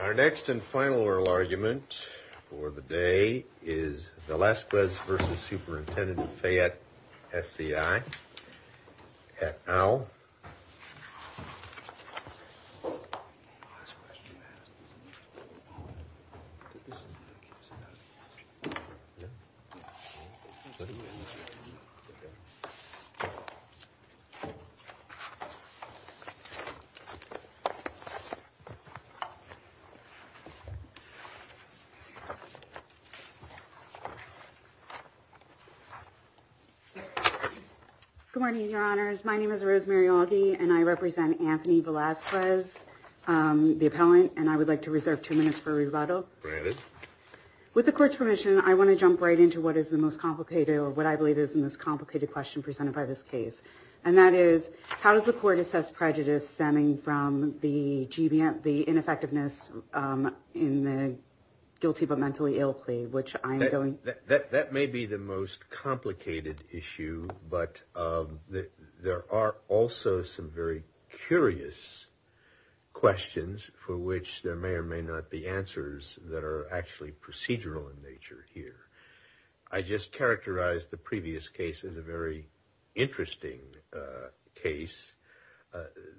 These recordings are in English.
Our next and final oral argument for the day is Velazquez v. Superintendent Fayette SCI at OWL. Good morning, Your Honors. My name is Rosemary Alge and I represent Anthony Velazquez, the appellant, and I would like to reserve two minutes for rebuttal. With the court's permission, I want to jump right into what is the most complicated or what I believe is the most complicated question presented by this case. And that is, how does the court assess prejudice stemming from the ineffectiveness in the guilty but mentally ill plea? That may be the most complicated issue, but there are also some very curious questions for which there may or may not be answers that are actually procedural in nature here. I just characterized the previous case as a very interesting case.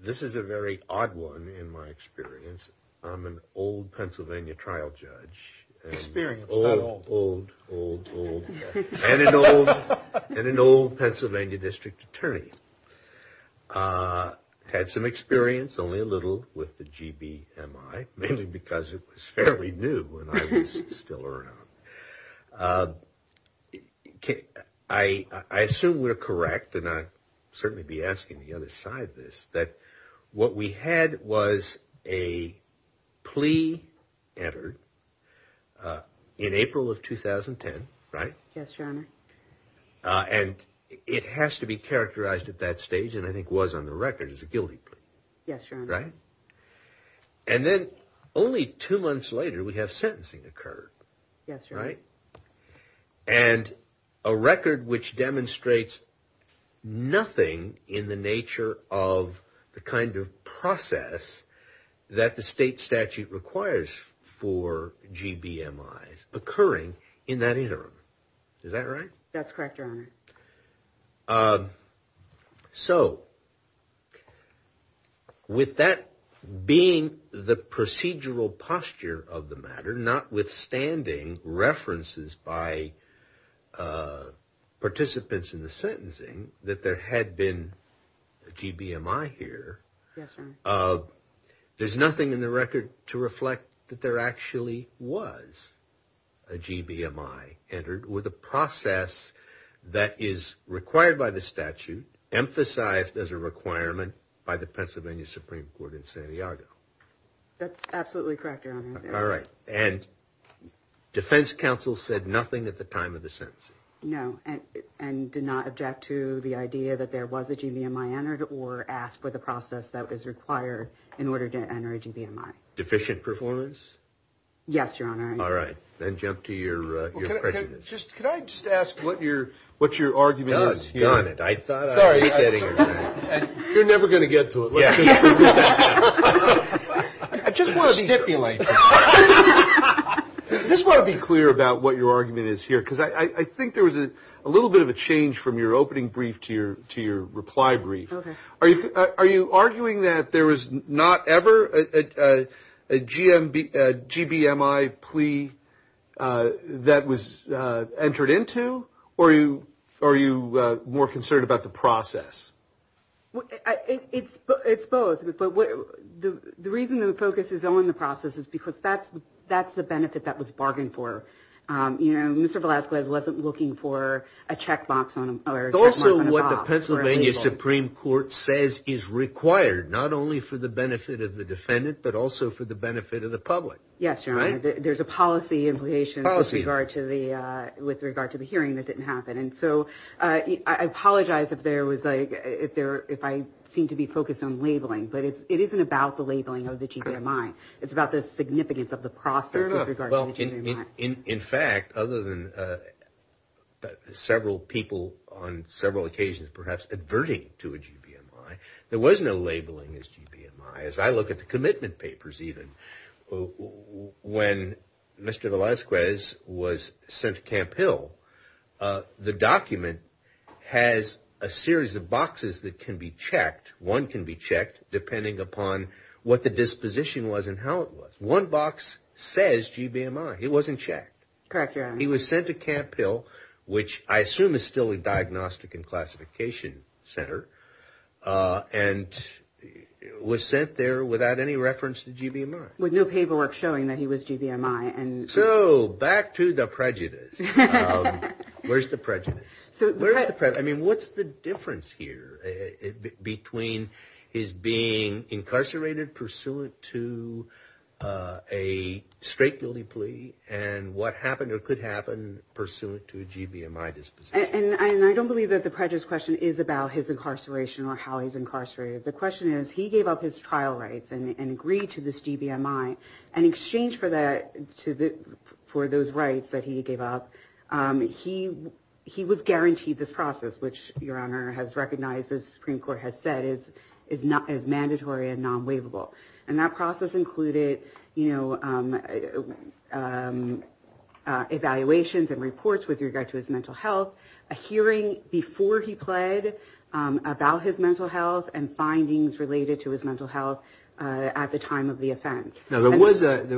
This is a very odd one in my experience. I'm an old Pennsylvania trial judge. Experience, not old. Old, old, old, and an old Pennsylvania district attorney. Had some experience, only a little with the GBMI, mainly because it was fairly new when I was still around. I assume we're correct, and I'll certainly be asking the other side this, that what we had was a plea entered in April of 2010, right? Yes, Your Honor. And it has to be characterized at that stage, and I think was on the record, as a guilty plea. Yes, Your Honor. Right? And then only two months later we have sentencing occur. Yes, Your Honor. Right? And a record which demonstrates nothing in the nature of the kind of process that the state statute requires for GBMIs occurring in that interim. Is that right? That's correct, Your Honor. So with that being the procedural posture of the matter, notwithstanding references by participants in the sentencing that there had been a GBMI here. Yes, Your Honor. There's nothing in the record to reflect that there actually was a GBMI entered with a process that is required by the statute, emphasized as a requirement by the Pennsylvania Supreme Court in San Diego. That's absolutely correct, Your Honor. All right. And defense counsel said nothing at the time of the sentencing. No, and did not object to the idea that there was a GBMI entered or asked for the process that was required in order to enter a GBMI. Deficient performance? Yes, Your Honor. All right. Then jump to your prejudice. Can I just ask what your argument is here? Sorry. You're never going to get to it. I just want to be clear about what your argument is here. Because I think there was a little bit of a change from your opening brief to your reply brief. Are you arguing that there was not ever a GBMI plea that was entered into? Or are you more concerned about the process? It's both. But the reason the focus is only on the process is because that's the benefit that was bargained for. You know, Mr. Velasquez wasn't looking for a check mark on a box. It's also what the Pennsylvania Supreme Court says is required, not only for the benefit of the defendant, but also for the benefit of the public. Yes, Your Honor. There's a policy implication with regard to the hearing that didn't happen. And so I apologize if I seem to be focused on labeling, but it isn't about the labeling of the GBMI. It's about the significance of the process with regard to the GBMI. In fact, other than several people on several occasions perhaps adverting to a GBMI, there was no labeling as GBMI. As I look at the commitment papers even, when Mr. Velasquez was sent to Camp Hill, the document has a series of boxes that can be checked. One can be checked depending upon what the disposition was and how it was. One box says GBMI. It wasn't checked. Correct, Your Honor. He was sent to Camp Hill, which I assume is still a diagnostic and classification center, and was sent there without any reference to GBMI. With no paperwork showing that he was GBMI. So back to the prejudice. Where's the prejudice? I mean, what's the difference here between his being incarcerated pursuant to a straight guilty plea and what happened or could happen pursuant to a GBMI disposition? And I don't believe that the prejudice question is about his incarceration or how he's incarcerated. The question is he gave up his trial rights and agreed to this GBMI. And in exchange for those rights that he gave up, he was guaranteed this process, which Your Honor has recognized the Supreme Court has said is mandatory and non-waivable. And that process included evaluations and reports with regard to his mental health, a hearing before he pled about his mental health, and findings related to his mental health at the time of the offense. Now, there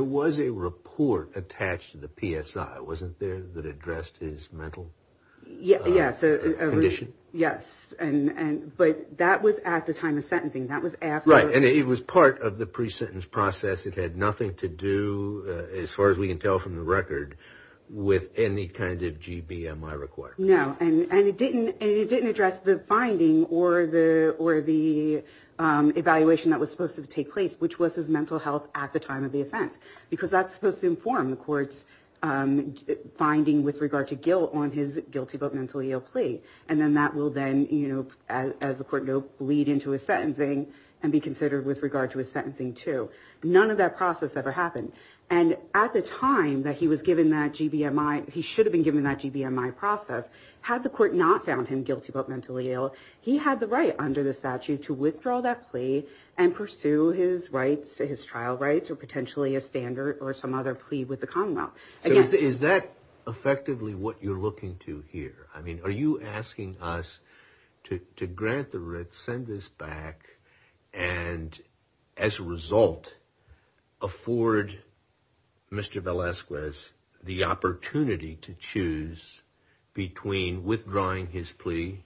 was a report attached to the PSI, wasn't there, that addressed his mental condition? Yes, but that was at the time of sentencing. Right, and it was part of the pre-sentence process. It had nothing to do, as far as we can tell from the record, with any kind of GBMI requirements. No, and it didn't address the finding or the evaluation that was supposed to take place, which was his mental health at the time of the offense. Because that's supposed to inform the court's finding with regard to guilt on his guilty but mentally ill plea. And then that will then, as the court know, bleed into his sentencing and be considered with regard to his sentencing too. None of that process ever happened. And at the time that he was given that GBMI, he should have been given that GBMI process. Had the court not found him guilty but mentally ill, he had the right under the statute to withdraw that plea and pursue his rights, his trial rights, or potentially a standard or some other plea with the Commonwealth. So is that effectively what you're looking to here? I mean, are you asking us to grant the writ, send this back, and as a result, afford Mr. Velasquez the opportunity to choose between withdrawing his plea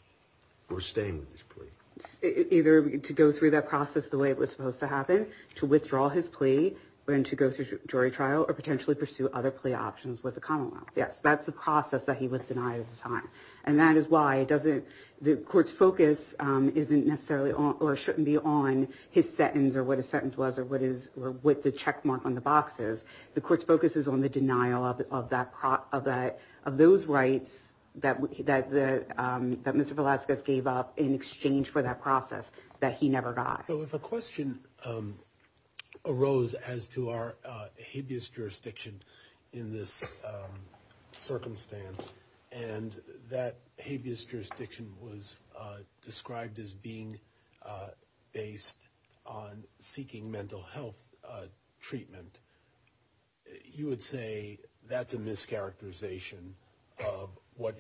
or staying with his plea? Either to go through that process the way it was supposed to happen, to withdraw his plea, and to go through jury trial, or potentially pursue other plea options with the Commonwealth. Yes, that's the process that he was denied at the time. And that is why the court's focus shouldn't be on his sentence or what his sentence was or what the checkmark on the box is. The court's focus is on the denial of those rights that Mr. Velasquez gave up in exchange for that process that he never got. So if a question arose as to our habeas jurisdiction in this circumstance, and that habeas jurisdiction was described as being based on seeking mental health treatment, you would say that's a mischaracterization of what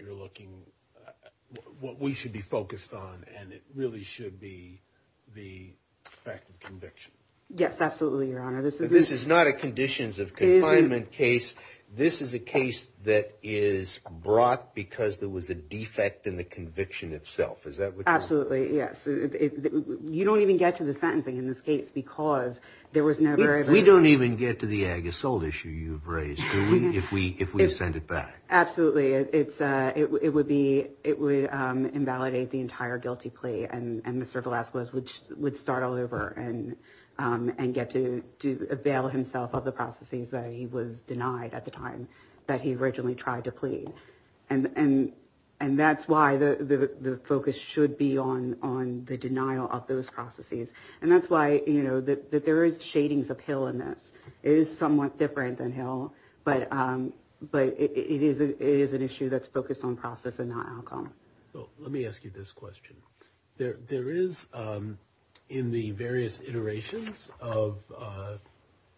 we should be focused on, and it really should be the fact of conviction. Yes, absolutely, Your Honor. This is not a conditions of confinement case. This is a case that is brought because there was a defect in the conviction itself. Is that what you're saying? Absolutely, yes. You don't even get to the sentencing in this case, because there was never a... We don't even get to the ag assault issue you've raised, do we, if we send it back? Absolutely. It would invalidate the entire guilty plea, and Mr. Velasquez would start all over and get to avail himself of the processes that he was denied at the time that he originally tried to plead. And that's why the focus should be on the denial of those processes. And that's why, you know, that there is shadings of Hill in this. It is somewhat different than Hill, but it is an issue that's focused on process and not outcome. Let me ask you this question. There is, in the various iterations of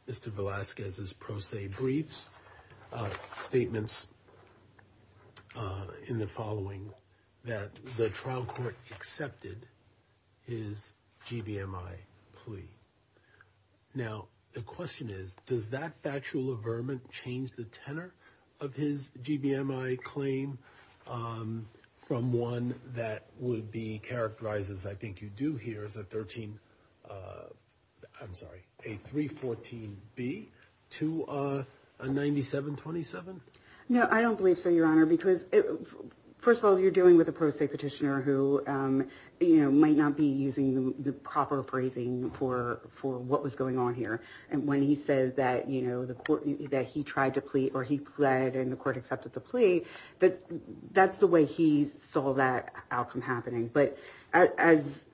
Mr. Velasquez's pro se briefs, statements in the following that the trial court accepted his GBMI plea. Now, the question is, does that factual averment change the tenor of his GBMI claim from one that would be characterized, as I think you do here, as a 13... I'm sorry, a 314B to a 9727? No, I don't believe so, Your Honor, because, first of all, you're dealing with a pro se petitioner who, you know, might not be using the proper phrasing for what was going on here. And when he says that, you know, the court, that he tried to plead or he pled and the court accepted the plea, that's the way he saw that outcome happening. But as,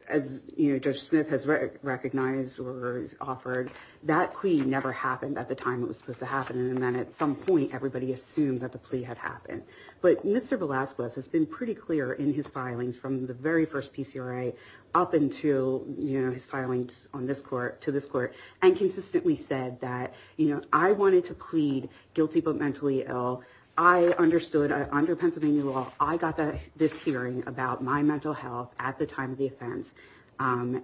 you know, Judge Smith has recognized or offered, that plea never happened at the time it was supposed to happen, and then at some point, everybody assumed that the plea had happened. But Mr. Velasquez has been pretty clear in his filings from the very first PCRA up until, you know, his filings on this court, to this court, and consistently said that, you know, I wanted to plead guilty but mentally ill. I understood, under Pennsylvania law, I got this hearing about my mental health at the time of the offense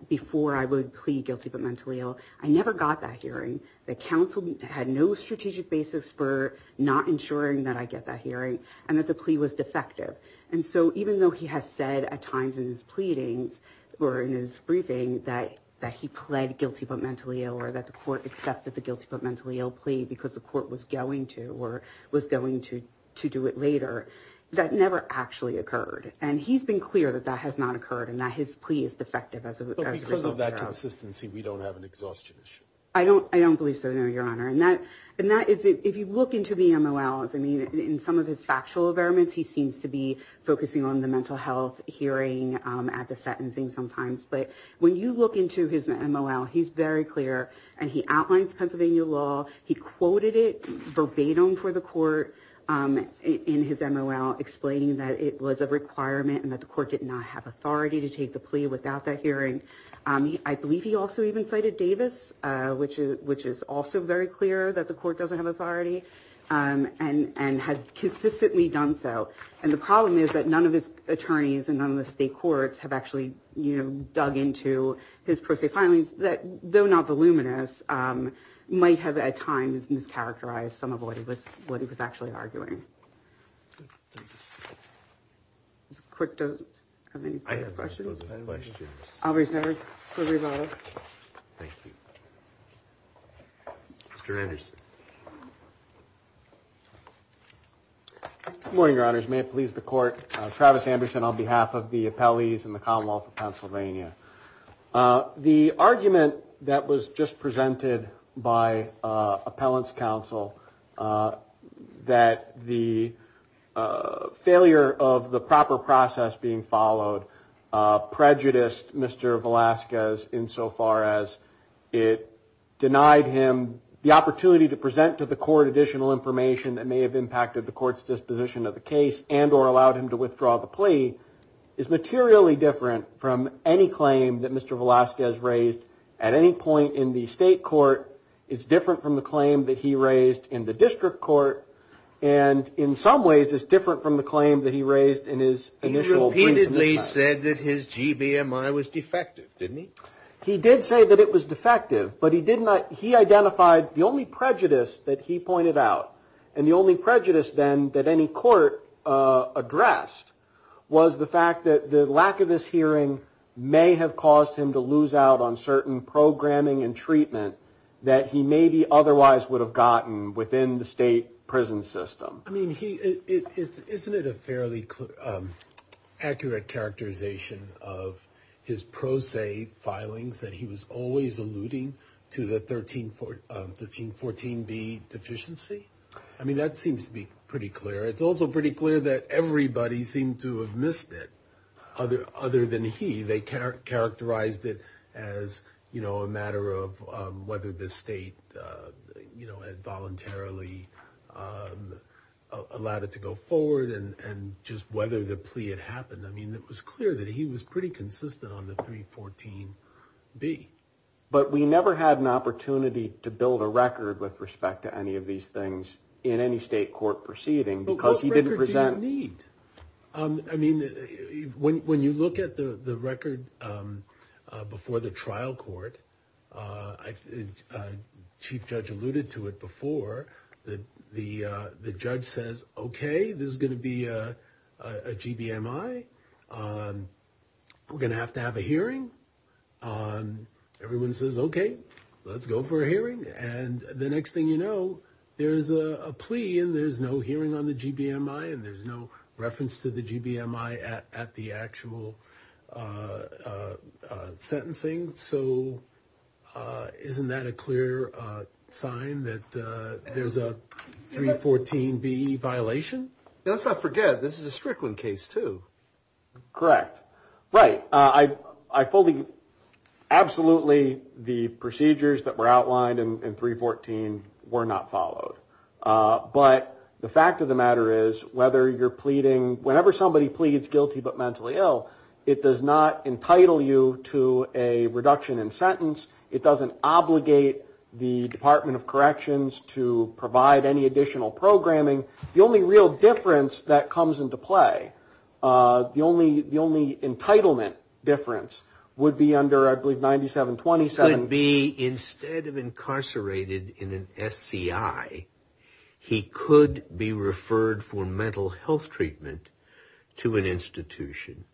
before I would plead guilty but mentally ill. I never got that hearing. The counsel had no strategic basis for not ensuring that I get that hearing and that the plea was defective. And so even though he has said at times in his pleadings or in his briefing that he pled guilty but mentally ill or that the court accepted the guilty but mentally ill plea because the court was going to or was going to do it later, that never actually occurred. And he's been clear that that has not occurred and that his plea is defective as a result. But because of that consistency, we don't have an exhaustion issue. I don't believe so, no, Your Honor. And that is, if you look into the MOLs, I mean, in some of his factual environments, he seems to be focusing on the mental health hearing at the sentencing sometimes. But when you look into his MOL, he's very clear. And he outlines Pennsylvania law. He quoted it verbatim for the court in his MOL, explaining that it was a requirement and that the court did not have authority to take the plea without that hearing. I believe he also even cited Davis, which is also very clear that the court doesn't have authority and has consistently done so. And the problem is that none of his attorneys and none of the state courts have actually dug into his pro se filings that, though not voluminous, might have at times mischaracterized some of what he was actually arguing. Does the clerk have any further questions? I have no further questions. I'll reserve for rebuttal. Thank you. Mr. Anderson. Good morning, Your Honors. May it please the court. Travis Anderson on behalf of the appellees in the Commonwealth of Pennsylvania. The argument that was just presented by appellant's counsel, that the failure of the proper process being followed prejudiced Mr. Velasquez in so far as it denied him the opportunity to present to the court additional information that may have impacted the court's disposition of the case and or allowed him to withdraw the plea, is materially different from any claim that Mr. Velasquez raised at any point in the state court. It's different from the claim that he raised in the district court. And in some ways, it's different from the claim that he raised in his initial. He repeatedly said that his GBMI was defective, didn't he? He did say that it was defective, but he did not. He identified the only prejudice that he pointed out and the only prejudice then that any court addressed was the fact that the lack of this hearing may have caused him to lose out on certain programming and treatment that he maybe otherwise would have gotten within the state prison system. I mean, isn't it a fairly accurate characterization of his pro se filings that he was always alluding to the 1314B deficiency? I mean, that seems to be pretty clear. It's also pretty clear that everybody seemed to have missed it other than he. They characterized it as a matter of whether the state voluntarily allowed it to go forward and just whether the plea had happened. I mean, it was clear that he was pretty consistent on the 314B. But we never had an opportunity to build a record with respect to any of these things in any state court proceeding because he didn't present. What record do you need? I mean, when you look at the record before the trial court, Chief Judge alluded to it before. The judge says, OK, this is going to be a GBMI. We're going to have to have a hearing. Everyone says, OK, let's go for a hearing. And the next thing you know, there is a plea and there's no hearing on the GBMI and there's no reference to the GBMI at the actual sentencing. So isn't that a clear sign that there's a 314B violation? Let's not forget this is a Strickland case, too. Correct. Right. I fully absolutely the procedures that were outlined in 314 were not followed. But the fact of the matter is, whether you're pleading, whenever somebody pleads guilty but mentally ill, it does not entitle you to a reduction in sentence. It doesn't obligate the Department of Corrections to provide any additional programming. The only real difference that comes into play, the only entitlement difference would be under, I believe, 9727. Instead of incarcerated in an SCI, he could be referred for mental health treatment to an institution,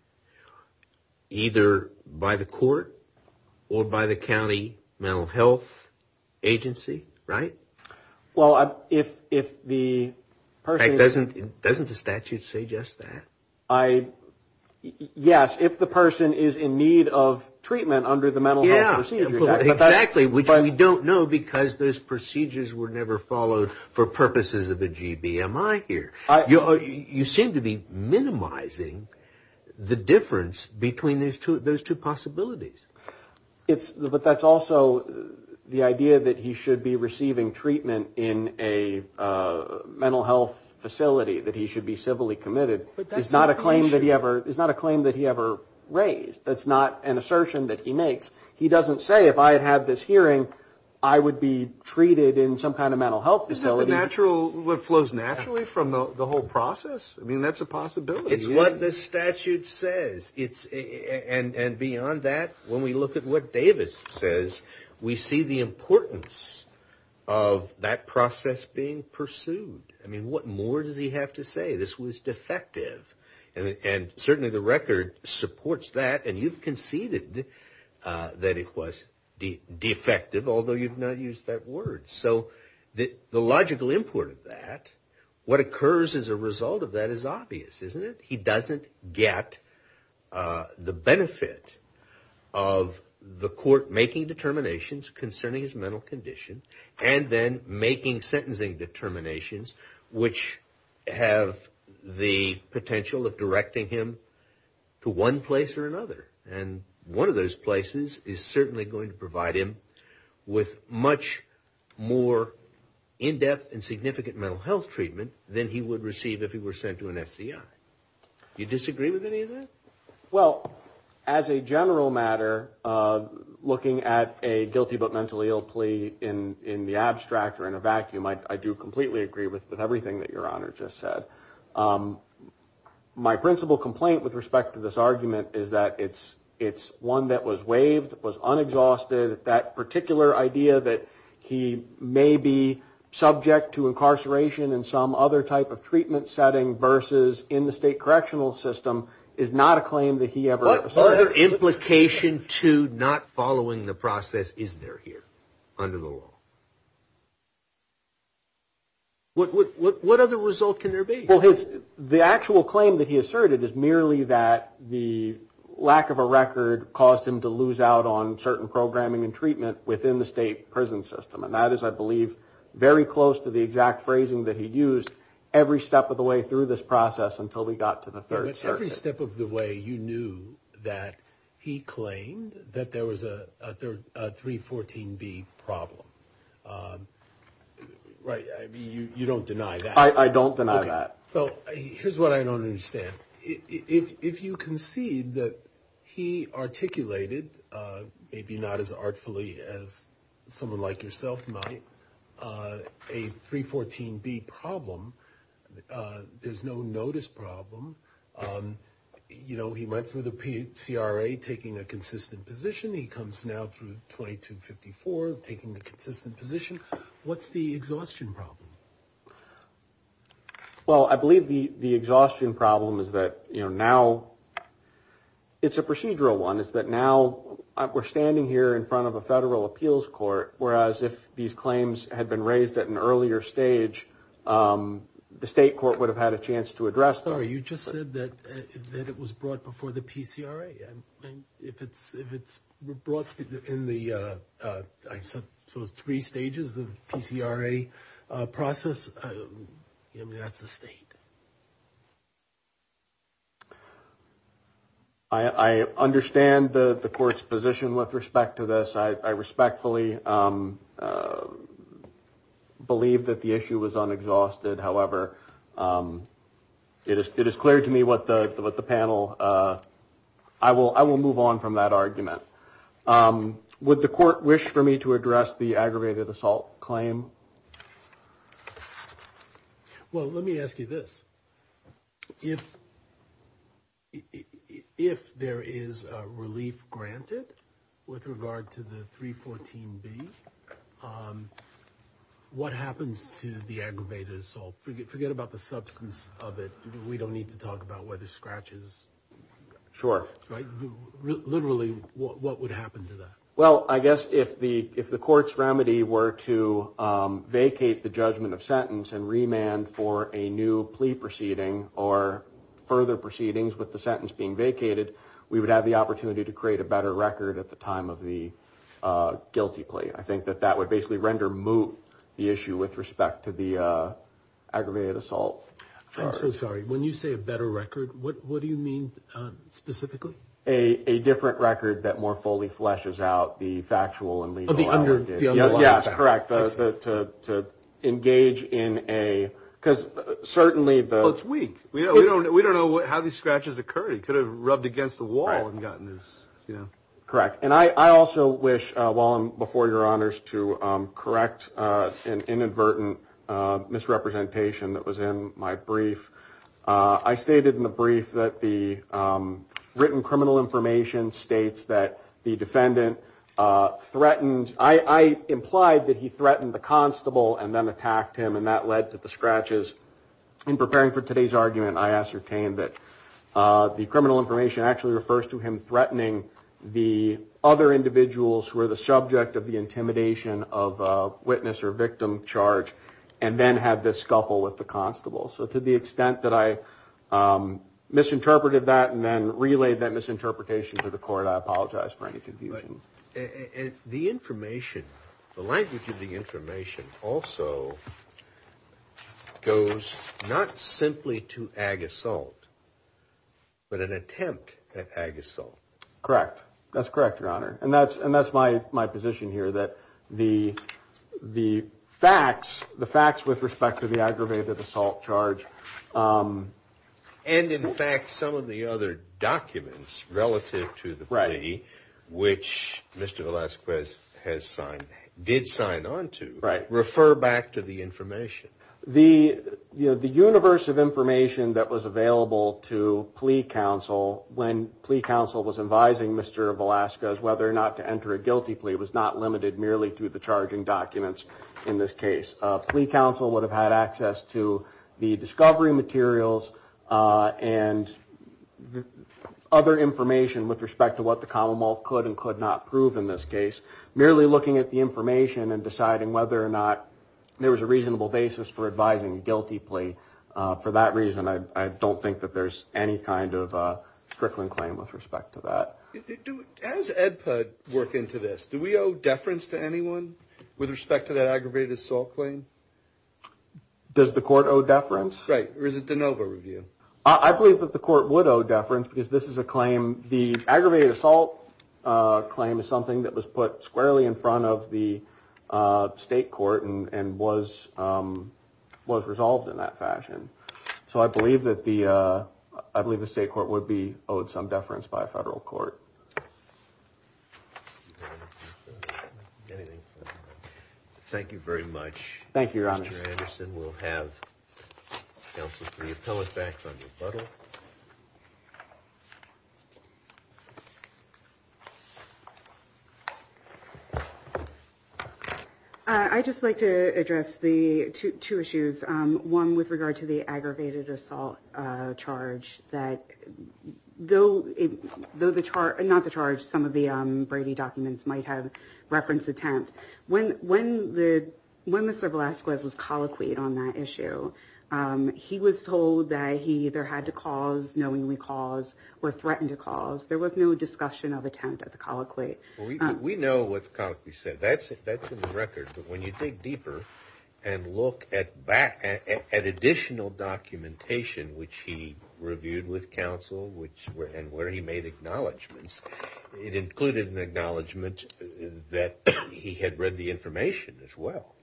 either by the court or by the county mental health agency, right? Well, if the person... Doesn't the statute say just that? Yes, if the person is in need of treatment under the mental health procedures. Exactly, which we don't know because those procedures were never followed for purposes of a GBMI here. You seem to be minimizing the difference between those two possibilities. But that's also the idea that he should be receiving treatment in a mental health facility, that he should be civilly committed. It's not a claim that he ever raised. It's not an assertion that he makes. He doesn't say, if I had had this hearing, I would be treated in some kind of mental health facility. Isn't that what flows naturally from the whole process? I mean, that's a possibility. It's what the statute says. And beyond that, when we look at what Davis says, we see the importance of that process being pursued. I mean, what more does he have to say? This was defective. And certainly the record supports that, and you've conceded that it was defective, although you've not used that word. So the logical import of that, what occurs as a result of that is obvious, isn't it? He doesn't get the benefit of the court making determinations concerning his mental condition, and then making sentencing determinations which have the potential of directing him to one place or another. And one of those places is certainly going to provide him with much more in-depth and significant mental health treatment than he would receive if he were sent to an FCI. Do you disagree with any of that? Well, as a general matter, looking at a guilty but mentally ill plea in the abstract or in a vacuum, I do completely agree with everything that Your Honor just said. My principal complaint with respect to this argument is that it's one that was waived, it was unexhausted. That particular idea that he may be subject to incarceration in some other type of treatment setting versus in the state correctional system is not a claim that he ever asserted. What other implication to not following the process is there here under the law? What other result can there be? Well, the actual claim that he asserted is merely that the lack of a record caused him to lose out on certain programming and treatment within the state prison system. And that is, I believe, very close to the exact phrasing that he used every step of the way through this process until we got to the Third Circuit. But every step of the way you knew that he claimed that there was a 314B problem, right? I mean, you don't deny that? I don't deny that. So here's what I don't understand. If you concede that he articulated, maybe not as artfully as someone like yourself might, a 314B problem, there's no notice problem. You know, he went through the PCRA taking a consistent position. He comes now through 2254 taking the consistent position. What's the exhaustion problem? Well, I believe the exhaustion problem is that, you know, now it's a procedural one. It's that now we're standing here in front of a federal appeals court, whereas if these claims had been raised at an earlier stage, the state court would have had a chance to address them. You just said that it was brought before the PCRA. And if it's if it's brought in the three stages of PCRA process, that's the state. I understand the court's position with respect to this. I respectfully believe that the issue was unexhausted. However, it is it is clear to me what the what the panel I will I will move on from that argument. Would the court wish for me to address the aggravated assault claim? Well, let me ask you this. If if there is relief granted with regard to the 314 B, what happens to the aggravated assault? Forget about the substance of it. We don't need to talk about whether scratches. Right. Literally, what would happen to that? Well, I guess if the if the court's remedy were to vacate the judgment of sentence and remand for a new plea proceeding or further proceedings with the sentence being vacated, we would have the opportunity to create a better record at the time of the guilty plea. I think that that would basically render moot the issue with respect to the aggravated assault. I'm so sorry. When you say a better record, what do you mean specifically? A different record that more fully fleshes out the factual and legal. Yes, correct. To engage in a because certainly it's weak. We don't we don't know how these scratches occur. He could have rubbed against the wall and gotten this correct. And I also wish well before your honors to correct an inadvertent misrepresentation that was in my brief. I stated in the brief that the written criminal information states that the defendant threatened. I implied that he threatened the constable and then attacked him. And that led to the scratches in preparing for today's argument. I ascertained that the criminal information actually refers to him threatening the other individuals who are the subject of the intimidation of a witness or victim charge and then have this scuffle with the constable. So to the extent that I misinterpreted that and then relayed that misinterpretation to the court, I apologize for any confusion. The information, the language of the information also goes not simply to ask for a better record. But an attempt at assault. Correct. That's correct. Your honor. And that's and that's my my position here. That the the facts, the facts with respect to the aggravated assault charge. And in fact, some of the other documents relative to the right, which Mr. Velasquez has signed, did sign on to. Right. Refer back to the information. The universe of information that was available to plea council when plea council was advising Mr. Velasquez whether or not to enter a guilty plea was not limited merely to the charging documents. In this case, plea council would have had access to the discovery materials and other information with respect to what the Commonwealth could and could not prove in this case. Merely looking at the information and deciding whether or not there was a reasonable basis for advising a guilty plea. For that reason, I don't think that there's any kind of strickling claim with respect to that. As Ed put work into this, do we owe deference to anyone with respect to that aggravated assault claim? Does the court owe deference? Right. Or is it DeNova review? I believe that the court would owe deference because this is a claim. The aggravated assault claim is something that was put squarely in front of the state court and was was resolved in that fashion. So I believe that the I believe the state court would be owed some deference by a federal court. Anything. Thank you very much. Thank you, Your Honor. Anderson will have. I just like to address the two issues. One with regard to the aggravated assault charge that though though the chart and not the charge. Some of the Brady documents might have reference attempt when when the when Mr. Velasquez was colloquy on that issue. He was told that he either had to cause knowingly cause or threatened to cause. There was no discussion of attempt at the colloquy. We know what we said. That's it. That's in the record. But when you dig deeper and look at back at additional documentation, which he reviewed with counsel, which were and where he made acknowledgments, it included an acknowledgement that he had read the information as well.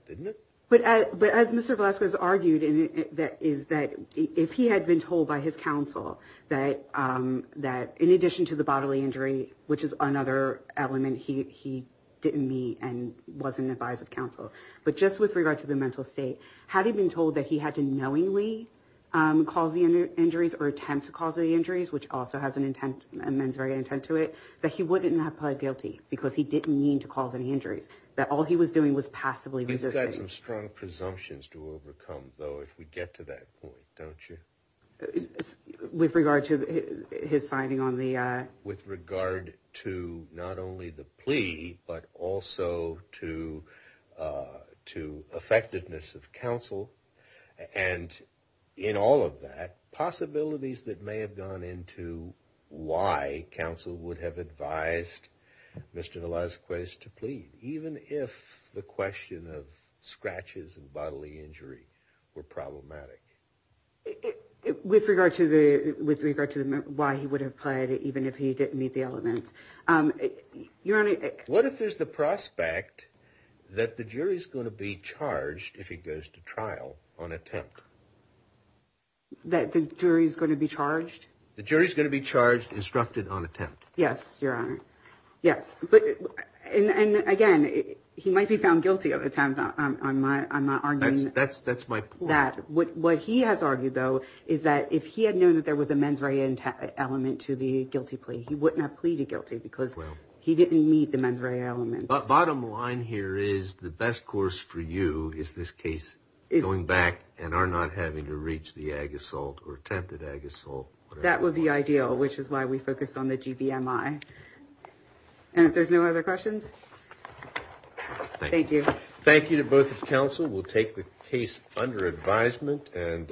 But as Mr. Velasquez argued, that is that if he had been told by his counsel that that in addition to the bodily injury, which is another element he he didn't meet and wasn't advised of counsel. But just with regard to the mental state, had he been told that he had to knowingly cause the injuries or attempt to cause the injuries, which also has an intent and men's very intent to it, that he wouldn't have pled guilty because he didn't mean to cause any injuries. He had some strong presumptions to overcome, though, if we get to that point. Don't you with regard to his finding on the with regard to not only the plea, but also to to effectiveness of counsel and in all of that possibilities that may have gone into why counsel would have advised Mr. Velasquez to plead, even if the question of scratches and bodily injury were problematic. With regard to the with regard to why he would have played it, even if he didn't meet the elements. Your Honor, what if there's the prospect that the jury is going to be charged if he goes to trial on attempt? That the jury is going to be charged, the jury is going to be charged, instructed on attempt. Yes, Your Honor. Yes. But and again, he might be found guilty of attempt. I'm not I'm not arguing that's that's my that what he has argued, though, is that if he had known that there was a men's right element to the guilty plea, he wouldn't have pleaded guilty because he didn't meet the men's right element. Bottom line here is the best course for you is this case is going back and are not having to reach the And if there's no other questions, thank you. Thank you to both of counsel. We'll take the case under advisement and.